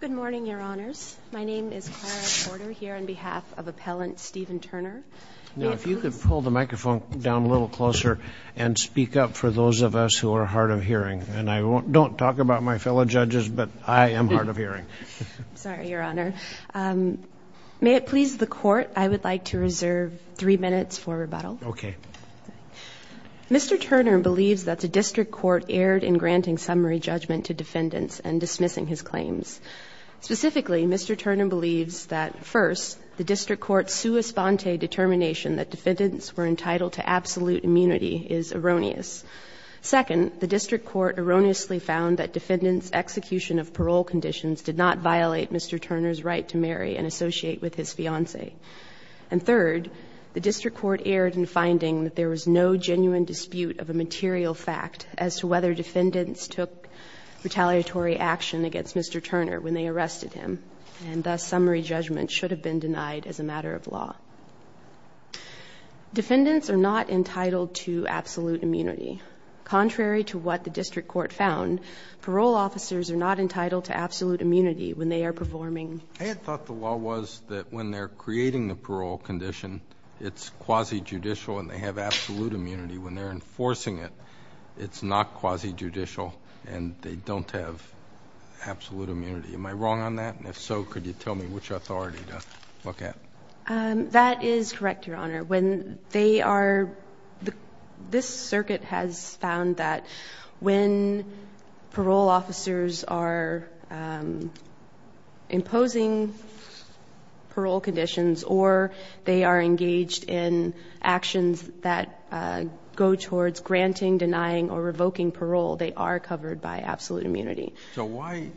Good morning, Your Honors. My name is Clara Porter here on behalf of Appellant Stephen Turner. Now, if you could pull the microphone down a little closer and speak up for those of us who are hard of hearing. And I don't talk about my fellow judges, but I am hard of hearing. Sorry, Your Honor. May it please the Court, I would like to reserve three minutes for rebuttal. Okay. Mr. Turner believes that the district court erred in granting summary judgment to defendants and dismissing his claims. Specifically, Mr. Turner believes that, first, the district court's sua sponte determination that defendants were entitled to absolute immunity is erroneous. Second, the district court erroneously found that defendants' execution of parole conditions did not violate Mr. Turner's right to marry and associate with his fiancée. And third, the district court erred in finding that there was no genuine dispute of a material fact as to whether defendants took retaliatory action against Mr. Turner when they arrested him. And thus, summary judgment should have been denied as a matter of law. Defendants are not entitled to absolute immunity. Contrary to what the district court found, parole officers are not entitled to absolute immunity when they are performing. I had thought the law was that when they're creating the parole condition, it's quasi-judicial and they have absolute immunity. When they're enforcing it, it's not quasi-judicial and they don't have absolute immunity. Am I wrong on that? And if so, could you tell me which authority to look at? That is correct, Your Honor. This circuit has found that when parole officers are imposing parole conditions or they are engaged in actions that go towards granting, denying, or revoking parole, they are covered by absolute immunity. It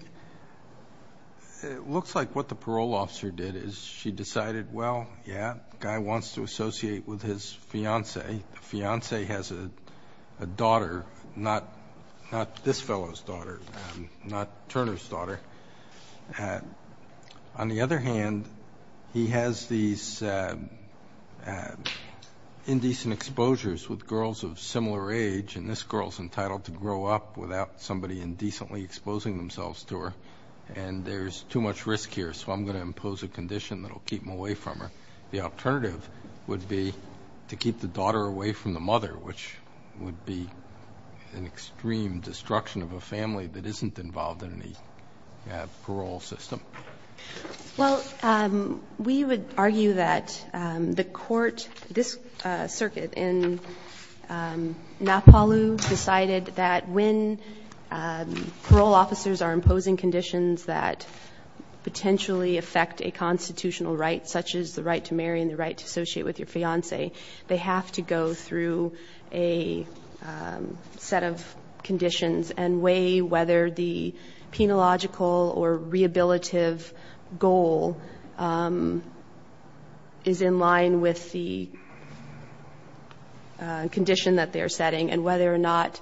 looks like what the parole officer did is she decided, well, yeah, the guy wants to associate with his fiancée. The fiancée has a daughter, not this fellow's daughter, not Turner's daughter. On the other hand, he has these indecent exposures with girls of similar age, and this girl is entitled to grow up without somebody indecently exposing themselves to her. And there's too much risk here, so I'm going to impose a condition that will keep him away from her. The alternative would be to keep the daughter away from the mother, which would be an extreme destruction of a family that isn't involved in any parole system. Well, we would argue that the court, this circuit in Napaloo, decided that when parole officers are imposing conditions that potentially affect a constitutional right, such as the right to marry and the right to associate with your fiancée, they have to go through a set of conditions and weigh whether the penological or rehabilitative goal is in line with the condition that they're setting, and whether or not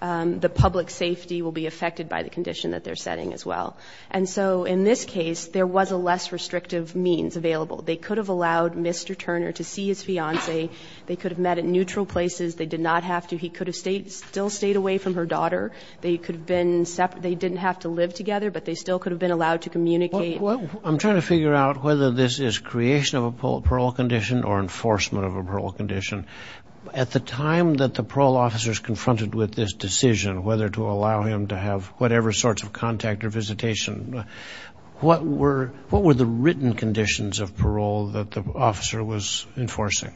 the public safety will be affected by the condition that they're setting as well. And so in this case, there was a less restrictive means available. They could have allowed Mr. Turner to see his fiancée. They could have met at neutral places. They did not have to. He could have still stayed away from her daughter. They could have been separate. They didn't have to live together, but they still could have been allowed to communicate. I'm trying to figure out whether this is creation of a parole condition or enforcement of a parole condition. At the time that the parole officers confronted with this decision, whether to allow him to have whatever sorts of contact or visitation, what were the written conditions of parole that the officer was enforcing?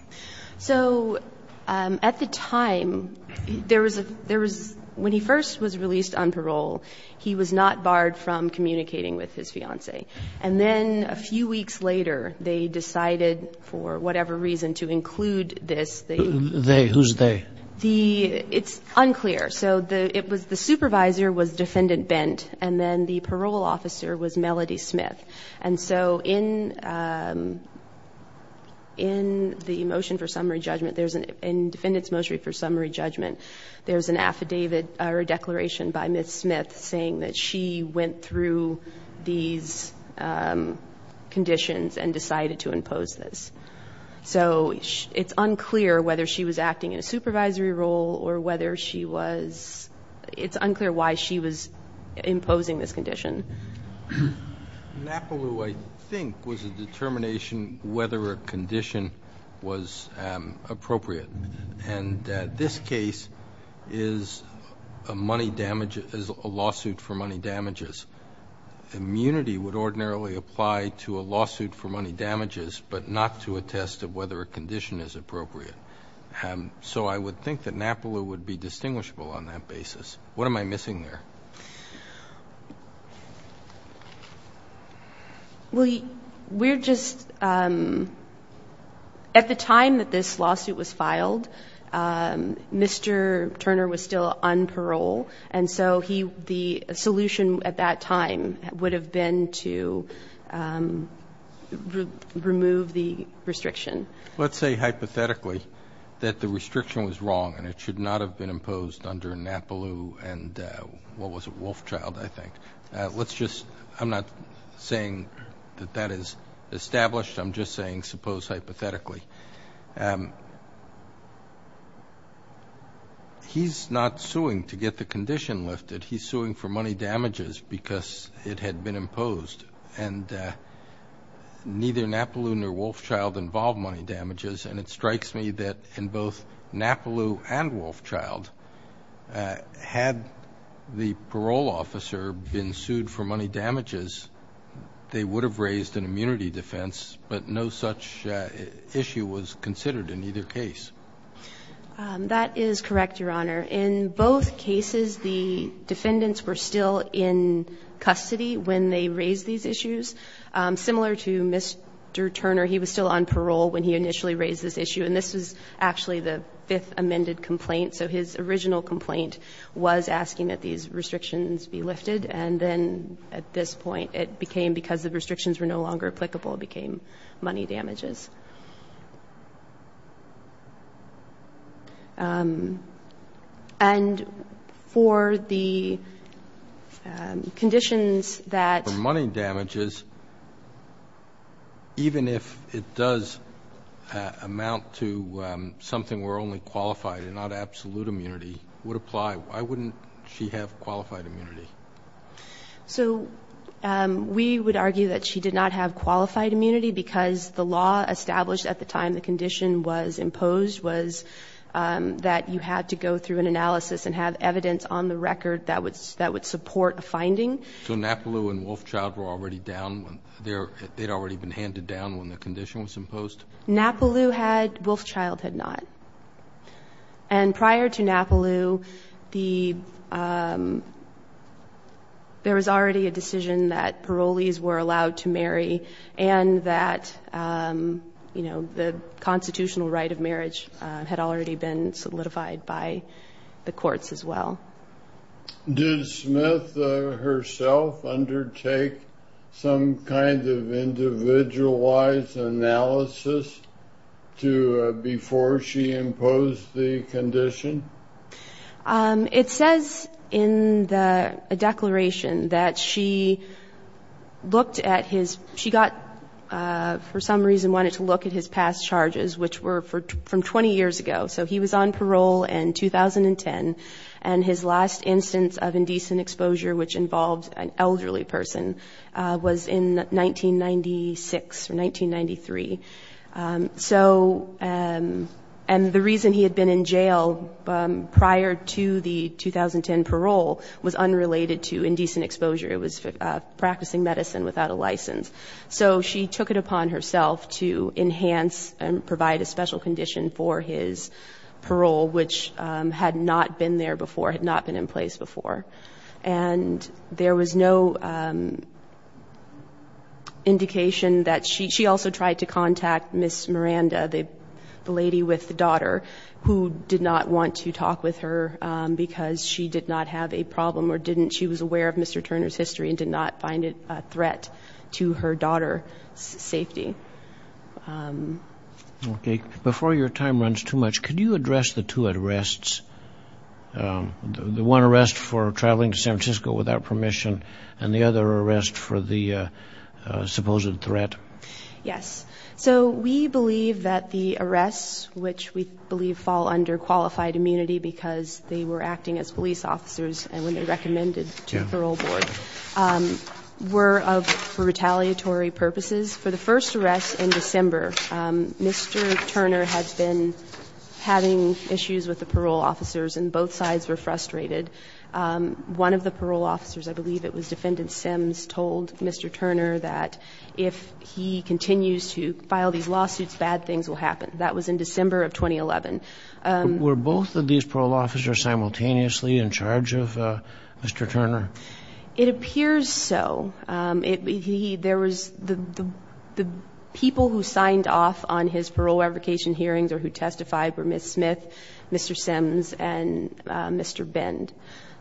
So at the time, when he first was released on parole, he was not barred from communicating with his fiancée. And then a few weeks later, they decided, for whatever reason, to include this. They? Who's they? It's unclear. So the supervisor was Defendant Bent, and then the parole officer was Melody Smith. And so in the motion for summary judgment, in Defendant's motion for summary judgment, there's an affidavit or a declaration by Ms. Smith saying that she went through these conditions and decided to impose this. So it's unclear whether she was acting in a supervisory role or whether she was? It's unclear why she was imposing this condition. NAPALU, I think, was a determination whether a condition was appropriate. And this case is a lawsuit for money damages. Immunity would ordinarily apply to a lawsuit for money damages, but not to a test of whether a condition is appropriate. So I would think that NAPALU would be distinguishable on that basis. What am I missing there? Well, we're just? At the time that this lawsuit was filed, Mr. Turner was still on parole, and so the solution at that time would have been to remove the restriction. Let's say hypothetically that the restriction was wrong and it should not have been imposed under NAPALU and what was it, Wolfchild, I think. I'm not saying that that is established. I'm just saying suppose hypothetically. He's not suing to get the condition lifted. He's suing for money damages because it had been imposed. And neither NAPALU nor Wolfchild involved money damages, and it strikes me that in both NAPALU and Wolfchild, had the parole officer been sued for money damages, they would have raised an immunity defense, but no such issue was considered in either case. That is correct, Your Honor. In both cases, the defendants were still in custody when they raised these issues. Similar to Mr. Turner, he was still on parole when he initially raised this issue, and this was actually the fifth amended complaint. So his original complaint was asking that these restrictions be lifted, and then at this point it became because the restrictions were no longer applicable, it became money damages. And for the conditions that? For money damages, even if it does amount to something where only qualified and not absolute immunity would apply, why wouldn't she have qualified immunity? So we would argue that she did not have qualified immunity because the law established at the time the condition was imposed was that you had to go through an analysis and have evidence on the record that would support a finding. So Napaloo and Wolfchild were already down when they? They had already been handed down when the condition was imposed? Napaloo had. Wolfchild had not. And prior to Napaloo, there was already a decision that parolees were allowed to marry and that the constitutional right of marriage had already been solidified by the courts as well. Did Smith herself undertake some kind of individualized analysis before she imposed the condition? It says in the declaration that she looked at his? She got, for some reason, wanted to look at his past charges, which were from 20 years ago. So he was on parole in 2010, and his last instance of indecent exposure, which involved an elderly person, was in 1996 or 1993. And the reason he had been in jail prior to the 2010 parole was unrelated to indecent exposure. So she took it upon herself to enhance and provide a special condition for his parole, which had not been there before, had not been in place before. And there was no indication that she? She also tried to contact Ms. Miranda, the lady with the daughter, who did not want to talk with her because she did not have a problem or didn't? She was aware of Mr. Turner's history and did not find it a threat to her daughter's safety. Before your time runs too much, could you address the two arrests, the one arrest for traveling to San Francisco without permission and the other arrest for the supposed threat? Yes. So we believe that the arrests, which we believe fall under qualified immunity because they were acting as police officers and when they recommended to the parole board, were for retaliatory purposes. For the first arrest in December, Mr. Turner had been having issues with the parole officers, and both sides were frustrated. One of the parole officers, I believe it was Defendant Sims, told Mr. Turner that if he continues to file these lawsuits, bad things will happen. That was in December of 2011. Were both of these parole officers simultaneously in charge of Mr. Turner? It appears so. There was the people who signed off on his parole application hearings or who testified were Ms. Smith, Mr. Sims, and Mr. Bend.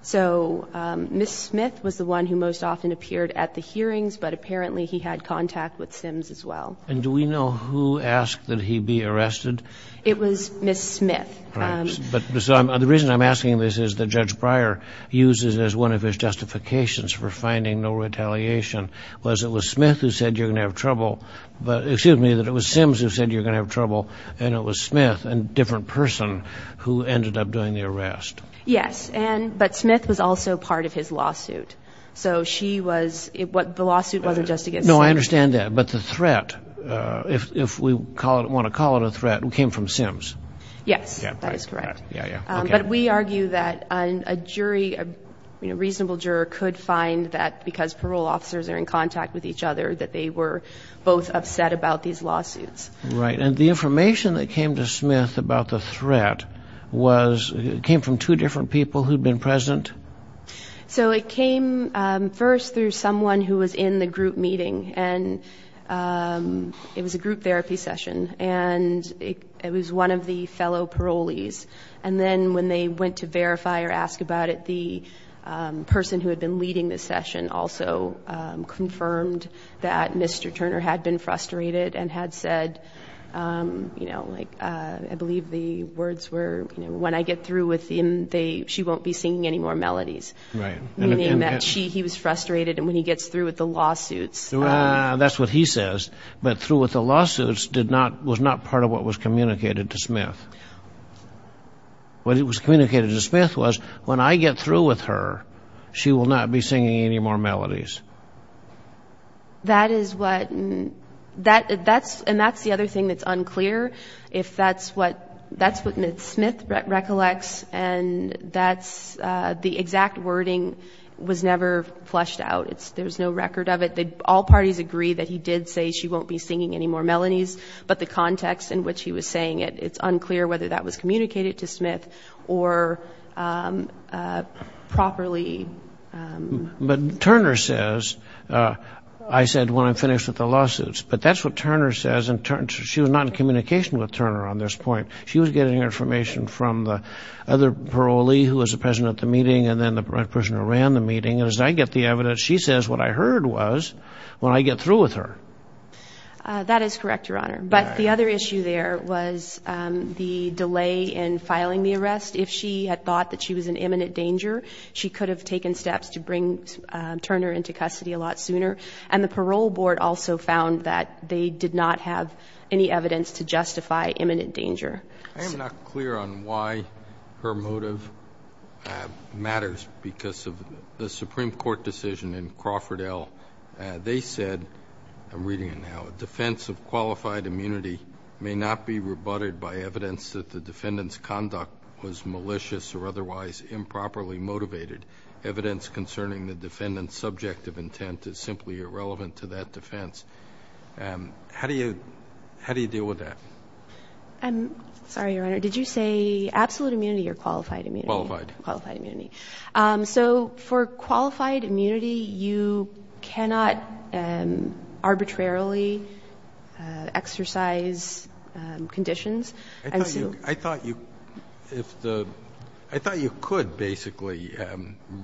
So Ms. Smith was the one who most often appeared at the hearings, but apparently he had contact with Sims as well. And do we know who asked that he be arrested? It was Ms. Smith. But the reason I'm asking this is that Judge Breyer uses it as one of his justifications for finding no retaliation was it was Smith who said you're going to have trouble, excuse me, that it was Sims who said you're going to have trouble, and it was Smith, a different person, who ended up doing the arrest. Yes, but Smith was also part of his lawsuit. So the lawsuit was just against Sims. No, I understand that. But the threat, if we want to call it a threat, came from Sims. Yes, that is correct. But we argue that a jury, a reasonable juror, could find that because parole officers are in contact with each other that they were both upset about these lawsuits. Right. And the information that came to Smith about the threat came from two different people who had been present? So it came first through someone who was in the group meeting, and it was a group therapy session, and it was one of the fellow parolees. And then when they went to verify or ask about it, the person who had been leading the session also confirmed that Mr. Turner had been frustrated and had said, I believe the words were, when I get through with him, she won't be singing any more melodies. Right. Meaning that he was frustrated, and when he gets through with the lawsuits. That's what he says. But through with the lawsuits was not part of what was communicated to Smith. What was communicated to Smith was, when I get through with her, she will not be singing any more melodies. That is what, and that's the other thing that's unclear, if that's what Smith recollects, and that's the exact wording was never flushed out. There's no record of it. All parties agree that he did say she won't be singing any more melodies, but the context in which he was saying it, it's unclear whether that was communicated to Smith or properly. But Turner says, I said when I'm finished with the lawsuits, but that's what Turner says, and she was not in communication with Turner on this point. She was getting information from the other parolee who was present at the meeting, and then the person who ran the meeting. And as I get the evidence, she says what I heard was, when I get through with her. That is correct, Your Honor. But the other issue there was the delay in filing the arrest. If she had thought that she was in imminent danger, she could have taken steps to bring Turner into custody a lot sooner. And the parole board also found that they did not have any evidence to justify imminent danger. I am not clear on why her motive matters because of the Supreme Court decision in Crawford L. They said, I'm reading it now, defense of qualified immunity may not be rebutted by evidence that the defendant's conduct was malicious or otherwise improperly motivated. Evidence concerning the defendant's subjective intent is simply irrelevant to that defense. How do you deal with that? I'm sorry, Your Honor. Did you say absolute immunity or qualified immunity? Qualified. Qualified immunity. So for qualified immunity, you cannot arbitrarily exercise conditions. I thought you could, basically.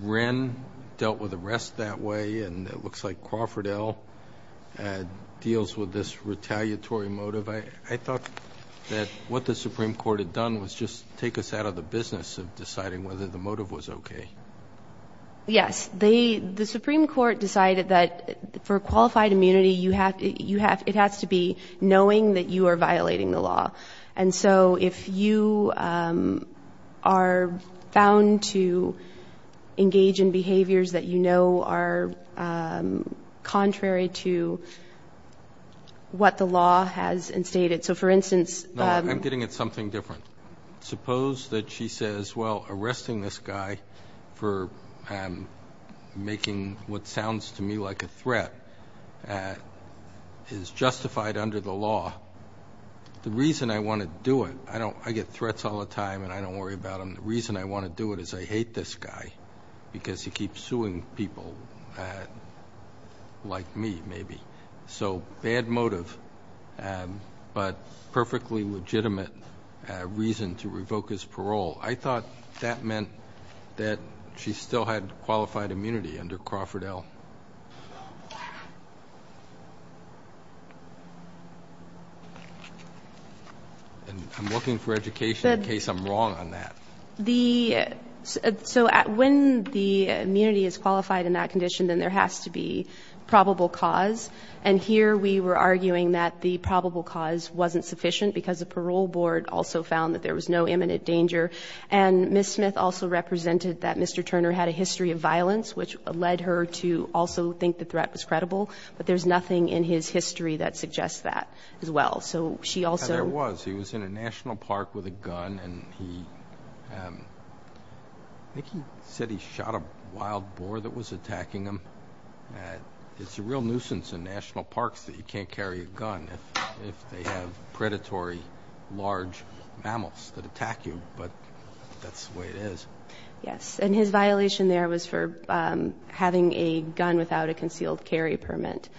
Wren dealt with arrests that way, and it looks like Crawford L. deals with this retaliatory motive. I thought that what the Supreme Court had done was just take us out of the business of deciding whether the motive was okay. Yes. The Supreme Court decided that for qualified immunity, it has to be knowing that you are violating the law. And so if you are bound to engage in behaviors that you know are contrary to what the law has instated. So, for instance. No, I'm getting at something different. Suppose that she says, well, arresting this guy for making what sounds to me like a threat is justified under the law. The reason I want to do it, I get threats all the time and I don't worry about them. The reason I want to do it is I hate this guy because he keeps suing people like me, maybe. So bad motive, but perfectly legitimate reason to revoke his parole. I thought that meant that she still had qualified immunity under Crawford L. And I'm looking for education in case I'm wrong on that. So when the immunity is qualified in that condition, then there has to be probable cause. And here we were arguing that the probable cause wasn't sufficient because the parole board also found that there was no imminent danger. And Miss Smith also represented that Mr. Turner had a history of violence, which led her to also think the threat was credible. But there's nothing in his history that suggests that as well. So she also was. He was in a national park with a gun and he said he shot a wild boar that was attacking him. It's a real nuisance in national parks that you can't carry a gun if they have predatory large mammals that attack you. But that's the way it is. Yes, and his violation there was for having a gun without a concealed carry permit.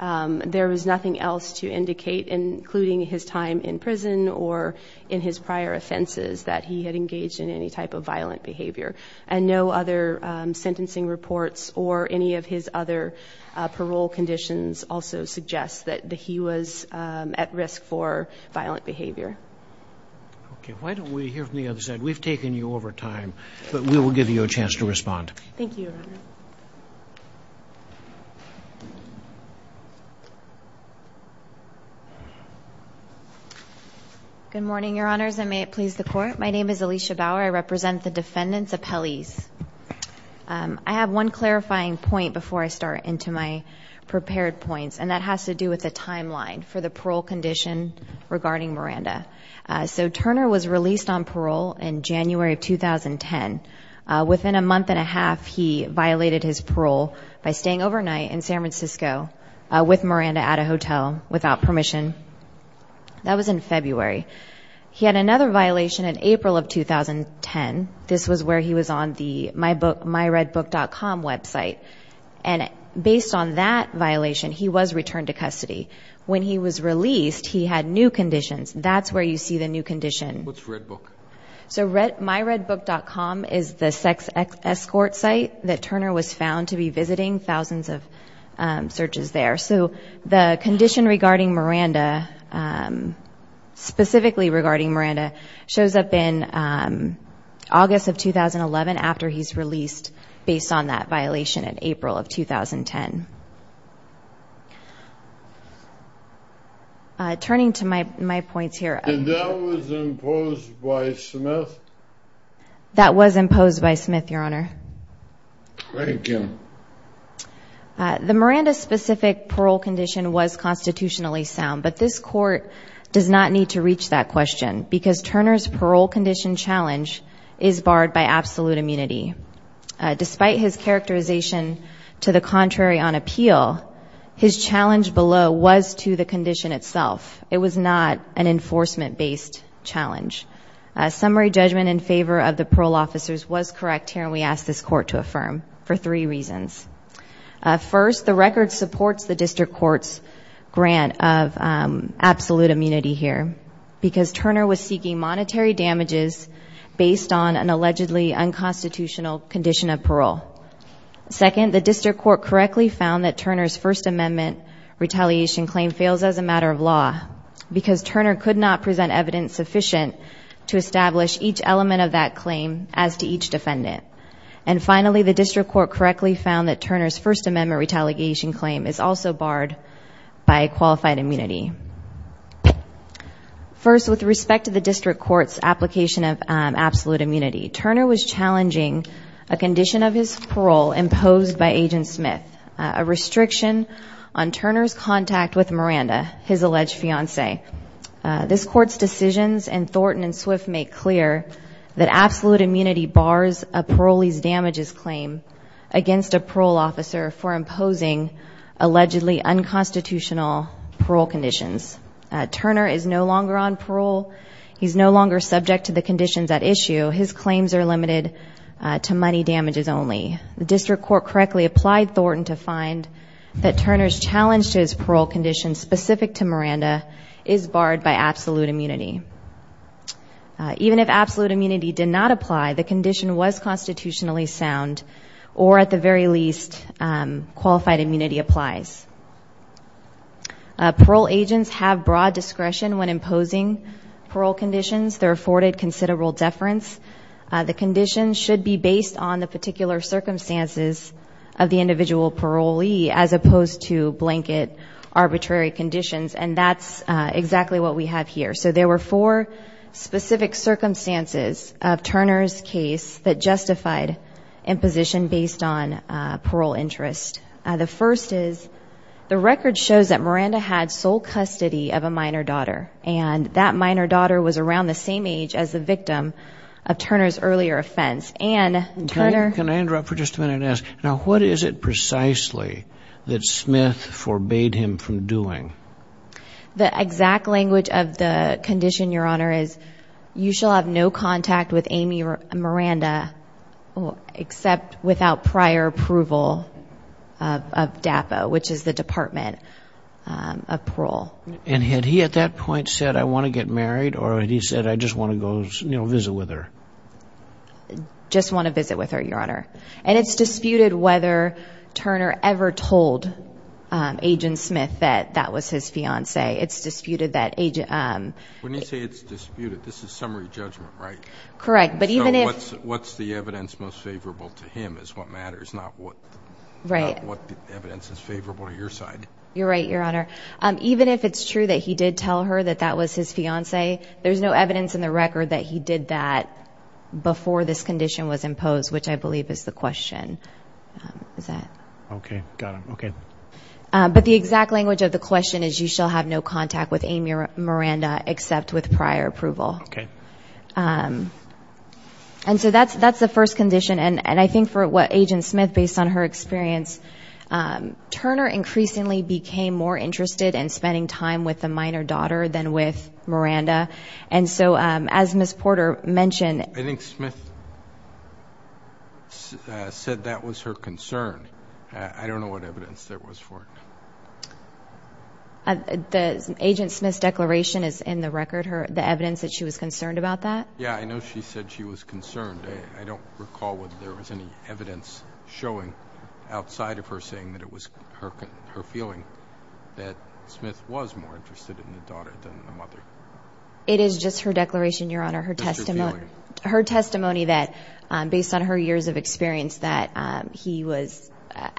There was nothing else to indicate, including his time in prison or in his prior offenses, that he had engaged in any type of violent behavior. And no other sentencing reports or any of his other parole conditions also suggest that he was at risk for violent behavior. OK, why don't we hear from the other side? We've taken you over time, but we will give you a chance to respond. Thank you. Good morning, Your Honors, and may it please the court. My name is Alicia Bauer. I represent the defendants' appellees. I have one clarifying point before I start into my prepared points, and that has to do with the timeline for the parole condition regarding Miranda. So Turner was released on parole in January of 2010. Within a month and a half, he violated his parole by staying overnight in San Francisco with Miranda at a hotel without permission. That was in February. He had another violation in April of 2010. This was where he was on the MyRedBook.com website, and based on that violation, he was returned to custody. When he was released, he had new conditions. That's where you see the new condition. What's Red Book? So MyRedBook.com is the sex escort site that Turner was found to be visiting, thousands of searches there. So the condition regarding Miranda, specifically regarding Miranda, shows up in August of 2011, after he's released based on that violation in April of 2010. Turning to my points here. And that was imposed by Smith? That was imposed by Smith, Your Honor. Thank you. The Miranda-specific parole condition was constitutionally sound, but this Court does not need to reach that question because Turner's parole condition challenge is barred by absolute immunity. Despite his characterization to the contrary on appeal, his challenge below was to the condition itself. It was not an enforcement-based challenge. Summary judgment in favor of the parole officers was correct here, and we ask this Court to affirm for three reasons. First, the record supports the District Court's grant of absolute immunity here because Turner was seeking monetary damages based on an allegedly unconstitutional condition of parole. Second, the District Court correctly found that Turner's First Amendment retaliation claim fails as a matter of law because Turner could not present evidence sufficient to establish each element of that claim as to each defendant. And finally, the District Court correctly found that Turner's First Amendment retaliation claim is also barred by qualified immunity. First, with respect to the District Court's application of absolute immunity, Turner was challenging a condition of his parole imposed by Agent Smith, a restriction on Turner's contact with Miranda, his alleged fiancée. This Court's decisions in Thornton and Swift make clear that absolute immunity bars a parolee's damages claim against a parole officer for imposing allegedly unconstitutional parole conditions. Turner is no longer on parole. He's no longer subject to the conditions at issue. His claims are limited to money damages only. The District Court correctly applied Thornton to find that Turner's challenge to his parole condition specific to Miranda is barred by absolute immunity. Even if absolute immunity did not apply, the condition was constitutionally sound, or at the very least, qualified immunity applies. Parole agents have broad discretion when imposing parole conditions. They're afforded considerable deference. The conditions should be based on the particular circumstances of the individual parolee as opposed to blanket arbitrary conditions, and that's exactly what we have here. So there were four specific circumstances of Turner's case that justified imposition based on parole interest. The first is the record shows that Miranda had sole custody of a minor daughter, and that minor daughter was around the same age as the victim of Turner's earlier offense. Can I interrupt for just a minute and ask, now what is it precisely that Smith forbade him from doing? The exact language of the condition, Your Honor, is you shall have no contact with Amy Miranda except without prior approval of DAPA, which is the Department of Parole. And had he at that point said, I want to get married, or had he said, I just want to go visit with her? Just want to visit with her, Your Honor. And it's disputed whether Turner ever told Agent Smith that that was his fiancee. It's disputed that Agent – When you say it's disputed, this is summary judgment, right? Correct, but even if – So what's the evidence most favorable to him is what matters, not what evidence is favorable to your side. You're right, Your Honor. Even if it's true that he did tell her that that was his fiancee, there's no evidence in the record that he did that before this condition was imposed, which I believe is the question. Is that – Okay, got it, okay. But the exact language of the question is you shall have no contact with Amy Miranda except with prior approval. Okay. And so that's the first condition, and I think for what Agent Smith, based on her experience, Turner increasingly became more interested in spending time with the minor daughter than with Miranda. And so as Ms. Porter mentioned – I think Smith said that was her concern. I don't know what evidence there was for it. The Agent Smith's declaration is in the record, the evidence that she was concerned about that? Yeah, I know she said she was concerned. I don't recall whether there was any evidence showing outside of her saying that it was her feeling that Smith was more interested in the daughter than the mother. It is just her declaration, Your Honor, her testimony that, based on her years of experience, that he was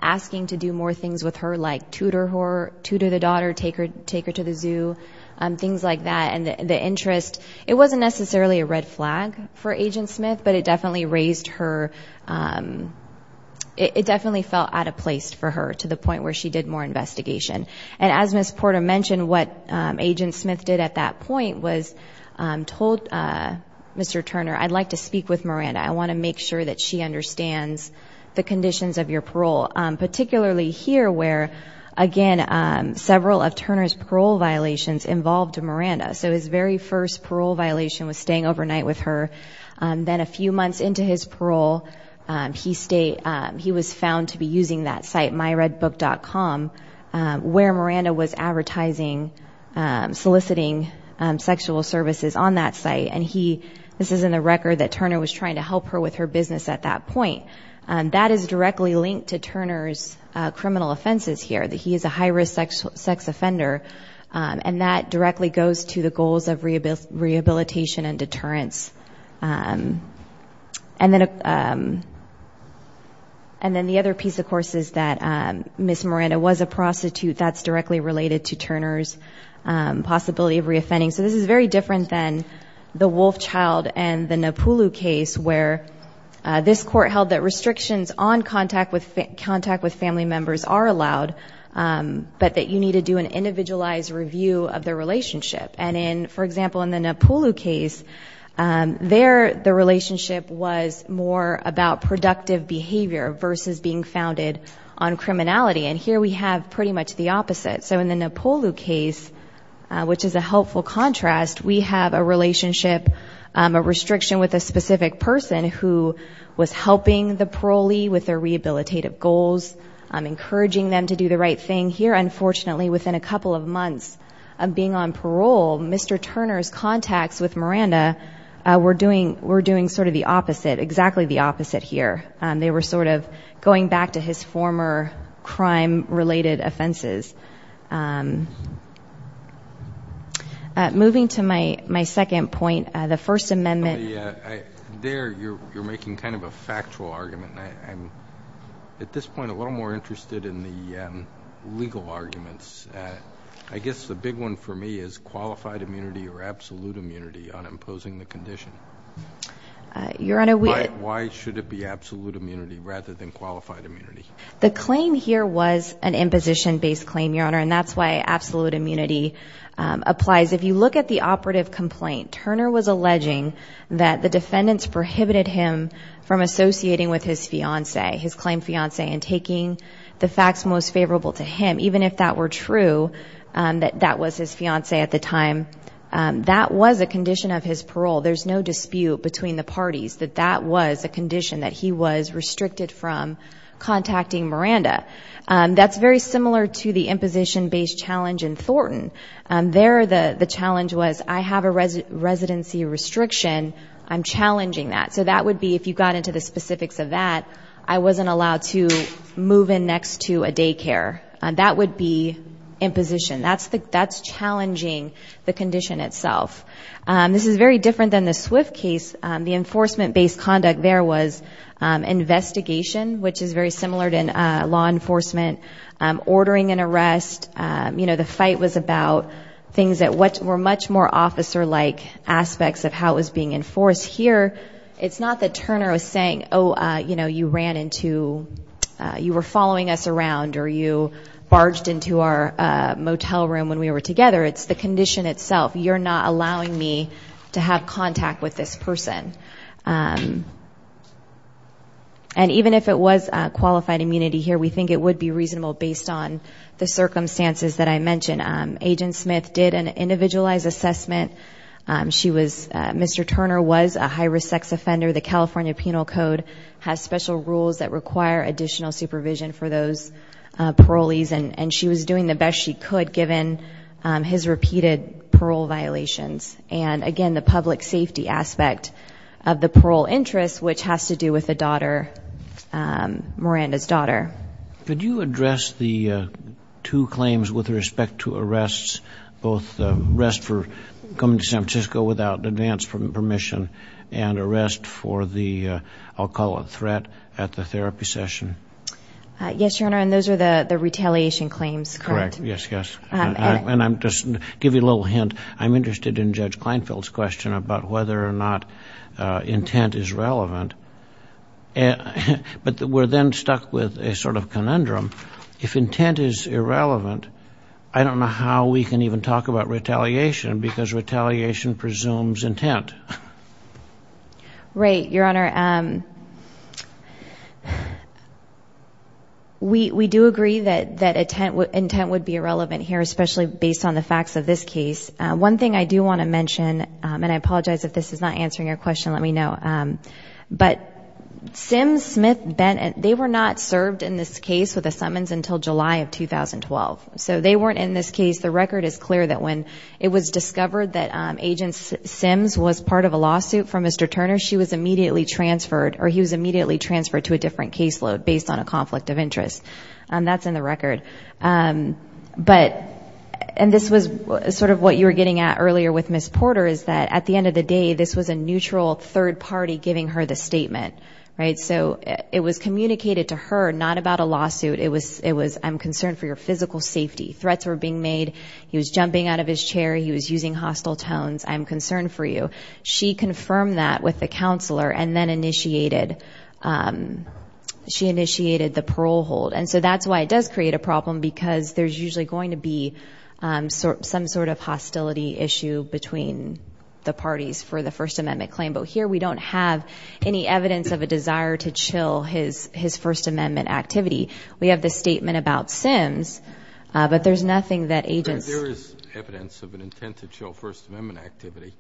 asking to do more things with her, like tutor her, tutor the daughter, take her to the zoo, things like that. It wasn't necessarily a red flag for Agent Smith, but it definitely raised her – it definitely felt out of place for her to the point where she did more investigation. And as Ms. Porter mentioned, what Agent Smith did at that point was told Mr. Turner, I'd like to speak with Miranda, I want to make sure that she understands the conditions of your parole, particularly here where, again, several of Turner's parole violations involved Miranda. So his very first parole violation was staying overnight with her. Then a few months into his parole, he was found to be using that site, myredbook.com, where Miranda was advertising, soliciting sexual services on that site. And this is in the record that Turner was trying to help her with her business at that point. That is directly linked to Turner's criminal offenses here, that he is a high-risk sex offender, and that directly goes to the goals of rehabilitation and deterrence. And then the other piece, of course, is that Ms. Miranda was a prostitute. That's directly related to Turner's possibility of reoffending. So this is very different than the Wolfchild and the Napulu case, where this court held that restrictions on contact with family members are allowed, but that you need to do an individualized review of the relationship. And, for example, in the Napulu case, there the relationship was more about productive behavior versus being founded on criminality. And here we have pretty much the opposite. So in the Napulu case, which is a helpful contrast, we have a relationship, a restriction with a specific person who was helping the parolee with their rehabilitative goals, encouraging them to do the right thing. Here, unfortunately, within a couple of months of being on parole, Mr. Turner's contacts with Miranda were doing sort of the opposite, exactly the opposite here. They were sort of going back to his former crime-related offenses. Moving to my second point, the First Amendment. There you're making kind of a factual argument, and I'm at this point a little more interested in the legal arguments. I guess the big one for me is qualified immunity or absolute immunity on imposing the condition. Why should it be absolute immunity rather than qualified immunity? The claim here was an imposition-based claim, Your Honor, and that's why absolute immunity applies. If you look at the operative complaint, Turner was alleging that the defendants prohibited him from associating with his fiancée, his claimed fiancée, and taking the facts most favorable to him, even if that were true that that was his fiancée at the time. That was a condition of his parole. There's no dispute between the parties that that was a condition that he was restricted from contacting Miranda. That's very similar to the imposition-based challenge in Thornton. There the challenge was I have a residency restriction, I'm challenging that. So that would be if you got into the specifics of that, I wasn't allowed to move in next to a daycare. That would be imposition. That's challenging the condition itself. This is very different than the Swift case. The enforcement-based conduct there was investigation, which is very similar to law enforcement, ordering an arrest. You know, the fight was about things that were much more officer-like aspects of how it was being enforced. Here, it's not that Turner was saying, oh, you know, you ran into, you were following us around, or you barged into our motel room when we were together. It's the condition itself, you're not allowing me to have contact with this person. And even if it was qualified immunity here, we think it would be reasonable based on the circumstances that I mentioned. Agent Smith did an individualized assessment. She was, Mr. Turner was a high-risk sex offender. The California Penal Code has special rules that require additional supervision for those parolees, and she was doing the best she could given his repeated parole violations. And, again, the public safety aspect of the parole interest, which has to do with a daughter, Miranda's daughter. Could you address the two claims with respect to arrests, both the arrest for coming to San Francisco without advance permission and arrest for the, I'll call it threat, at the therapy session? Yes, Your Honor, and those are the retaliation claims, correct? Correct, yes, yes. And I'll just give you a little hint. I'm interested in Judge Kleinfeld's question about whether or not intent is relevant. But we're then stuck with a sort of conundrum. If intent is irrelevant, I don't know how we can even talk about retaliation because retaliation presumes intent. Right, Your Honor. Your Honor, we do agree that intent would be irrelevant here, especially based on the facts of this case. One thing I do want to mention, and I apologize if this is not answering your question, let me know, but Sims, Smith, Bennett, they were not served in this case with a summons until July of 2012. So they weren't in this case. The record is clear that when it was discovered that Agent Sims was part of a lawsuit for Mr. Turner, she was immediately transferred, or he was immediately transferred to a different caseload based on a conflict of interest. That's in the record. But, and this was sort of what you were getting at earlier with Ms. Porter, is that at the end of the day, this was a neutral third party giving her the statement, right? So it was communicated to her, not about a lawsuit. It was, I'm concerned for your physical safety. Threats were being made. He was jumping out of his chair. He was using hostile tones. I'm concerned for you. She confirmed that with the counselor and then initiated, she initiated the parole hold. And so that's why it does create a problem because there's usually going to be some sort of hostility issue between the parties for the First Amendment claim. But here we don't have any evidence of a desire to chill his First Amendment activity. We have the statement about Sims, but there's nothing that agents. There is evidence of an intent to chill First Amendment activity.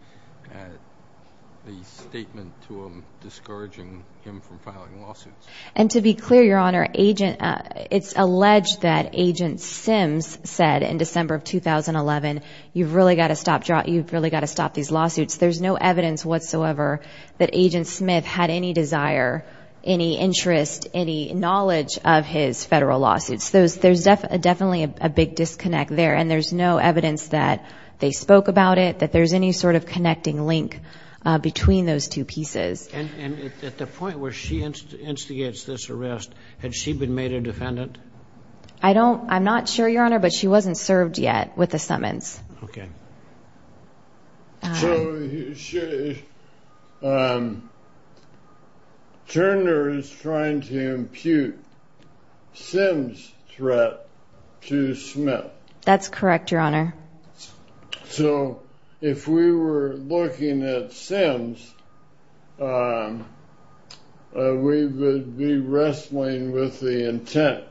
The statement to him discouraging him from filing lawsuits. And to be clear, Your Honor, it's alleged that Agent Sims said in December of 2011, you've really got to stop these lawsuits. There's no evidence whatsoever that Agent Smith had any desire, any interest, any knowledge of his federal lawsuits. So there's definitely a big disconnect there. And there's no evidence that they spoke about it, that there's any sort of connecting link between those two pieces. And at the point where she instigates this arrest, had she been made a defendant? I don't, I'm not sure, Your Honor, but she wasn't served yet with the summons. Okay. So Turner is trying to impute Sims' threat to Smith. That's correct, Your Honor. So if we were looking at Sims, we would be wrestling with the intent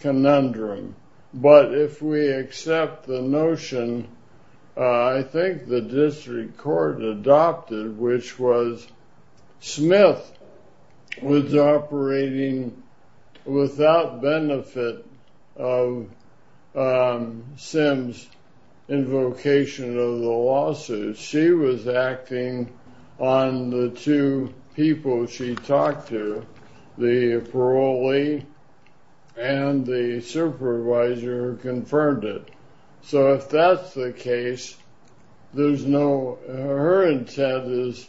conundrum. But if we accept the notion, I think the district court adopted, which was Smith was operating without benefit of Sims' invocation of the lawsuit. She was acting on the two people she talked to, the parolee and the supervisor who confirmed it. So if that's the case, there's no, her intent is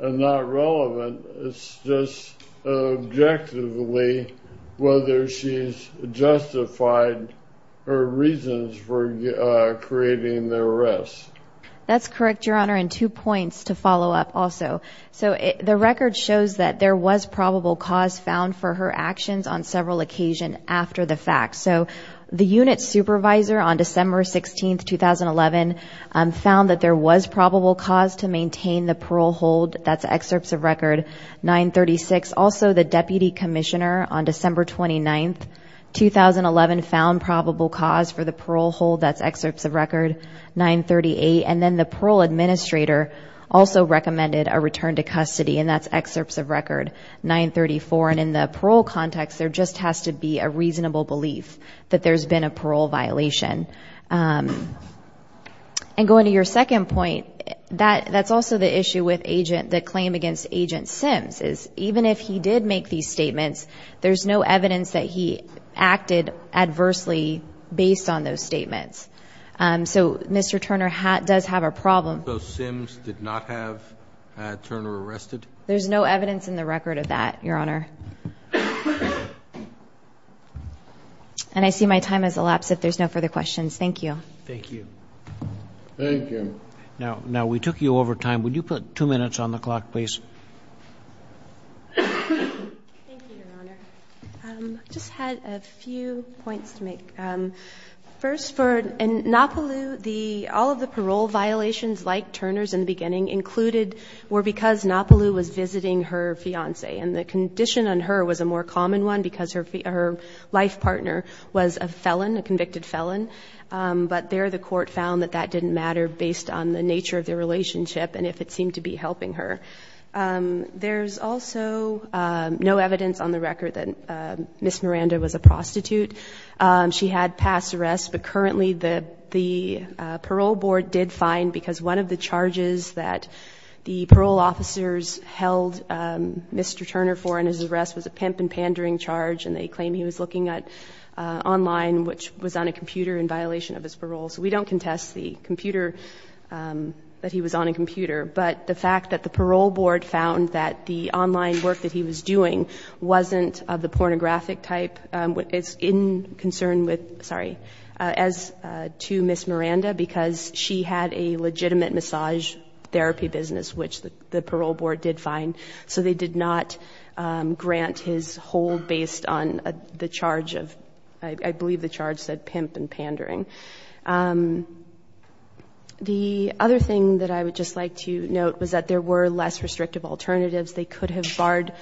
not relevant. It's just objectively whether she's justified her reasons for creating the arrest. That's correct, Your Honor. And two points to follow up also. So the record shows that there was probable cause found for her actions on several occasions after the fact. So the unit supervisor on December 16, 2011, found that there was probable cause to maintain the parole hold. That's excerpts of record 936. Also, the deputy commissioner on December 29, 2011, found probable cause for the parole hold. That's excerpts of record 938. And then the parole administrator also recommended a return to custody, and that's excerpts of record 934. And in the parole context, there just has to be a reasonable belief that there's been a parole violation. And going to your second point, that's also the issue with the claim against Agent Sims, is even if he did make these statements, there's no evidence that he acted adversely based on those statements. So Mr. Turner does have a problem. So Sims did not have Turner arrested? There's no evidence in the record of that, Your Honor. And I see my time has elapsed. If there's no further questions, thank you. Thank you. Thank you. Now, we took you over time. Would you put two minutes on the clock, please? Thank you, Your Honor. I just had a few points to make. First, for Nopaloo, all of the parole violations, like Turner's in the beginning, included were because Nopaloo was visiting her fiance. And the condition on her was a more common one because her life partner was a felon, a convicted felon. But there the court found that that didn't matter based on the nature of their relationship and if it seemed to be helping her. There's also no evidence on the record that Ms. Miranda was a prostitute. She had past arrests. But currently, the parole board did fine because one of the charges that the parole officers held Mr. Turner for in his arrest was a pimp and pandering charge. And they claimed he was looking at online, which was on a computer, in violation of his parole. So we don't contest the computer, that he was on a computer. But the fact that the parole board found that the online work that he was doing wasn't of the pornographic type, it's in concern with, sorry, as to Ms. Miranda because she had a legitimate massage therapy business, which the parole board did fine. So they did not grant his hold based on the charge of, I believe the charge said pimp and pandering. The other thing that I would just like to note was that there were less restrictive alternatives. They could have barred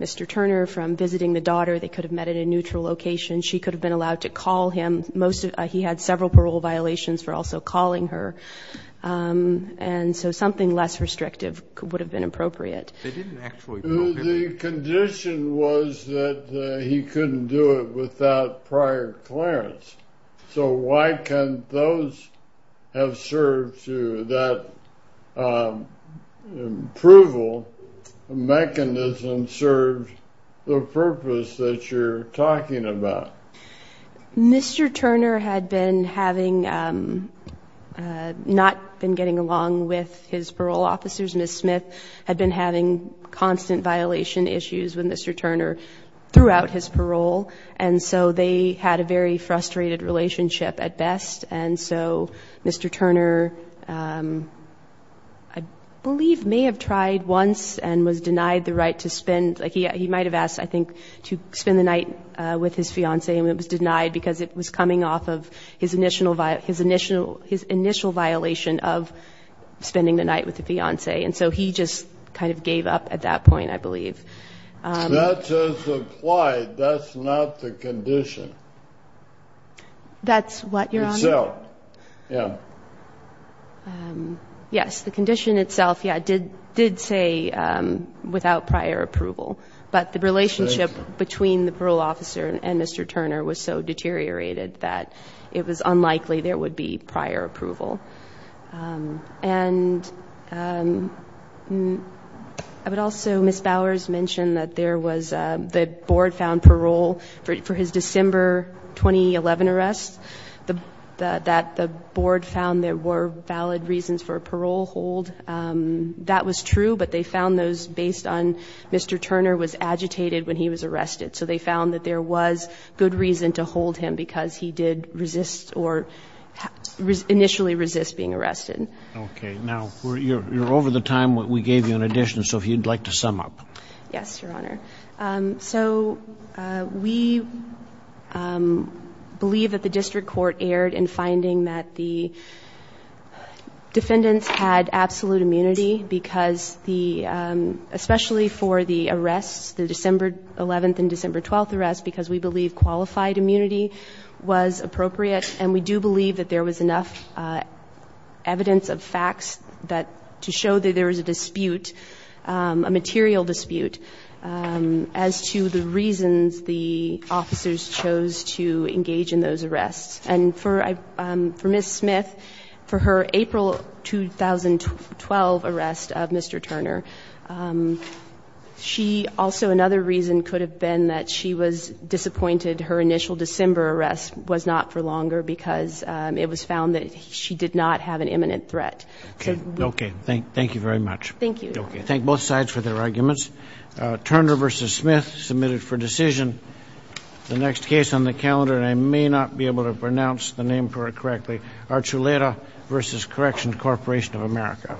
Mr. Turner from visiting the daughter. They could have met at a neutral location. She could have been allowed to call him. He had several parole violations for also calling her. And so something less restrictive would have been appropriate. The condition was that he couldn't do it without prior clearance. So why can't those have served to that approval mechanism served the purpose that you're talking about? Mr. Turner had been having not been getting along with his parole officers. Ms. Smith had been having constant violation issues with Mr. Turner throughout his parole. And so they had a very frustrated relationship at best. And so Mr. Turner, I believe, may have tried once and was denied the right to spend. He might have asked, I think, to spend the night with his fiancée, and it was denied because it was coming off of his initial violation of spending the night with the fiancée. And so he just kind of gave up at that point, I believe. That's as applied. That's not the condition. That's what, Your Honor? Itself. Yeah. Yes, the condition itself, yeah, did say without prior approval. But the relationship between the parole officer and Mr. Turner was so deteriorated that it was unlikely there would be prior approval. And I would also, Ms. Bowers mentioned that there was the board found parole for his December 2011 arrest, that the board found there were valid reasons for a parole hold. That was true, but they found those based on Mr. Turner was agitated when he was arrested. So they found that there was good reason to hold him because he did resist or initially resist being arrested. Okay. Now, you're over the time that we gave you in addition, so if you'd like to sum up. Yes, Your Honor. So we believe that the district court erred in finding that the defendants had absolute immunity because especially for the arrests, the December 11th and December 12th arrests, because we believe qualified immunity was appropriate. And we do believe that there was enough evidence of facts to show that there was a dispute, a material dispute, as to the reasons the officers chose to engage in those arrests. And for Ms. Smith, for her April 2012 arrest of Mr. Turner, also another reason could have been that she was disappointed her initial December arrest was not for longer because it was found that she did not have an imminent threat. Okay. Thank you very much. Thank you. Okay. Thank both sides for their arguments. Turner v. Smith submitted for decision the next case on the calendar, and I may not be able to pronounce the name correctly, Archuleta v. Correction Corporation of America.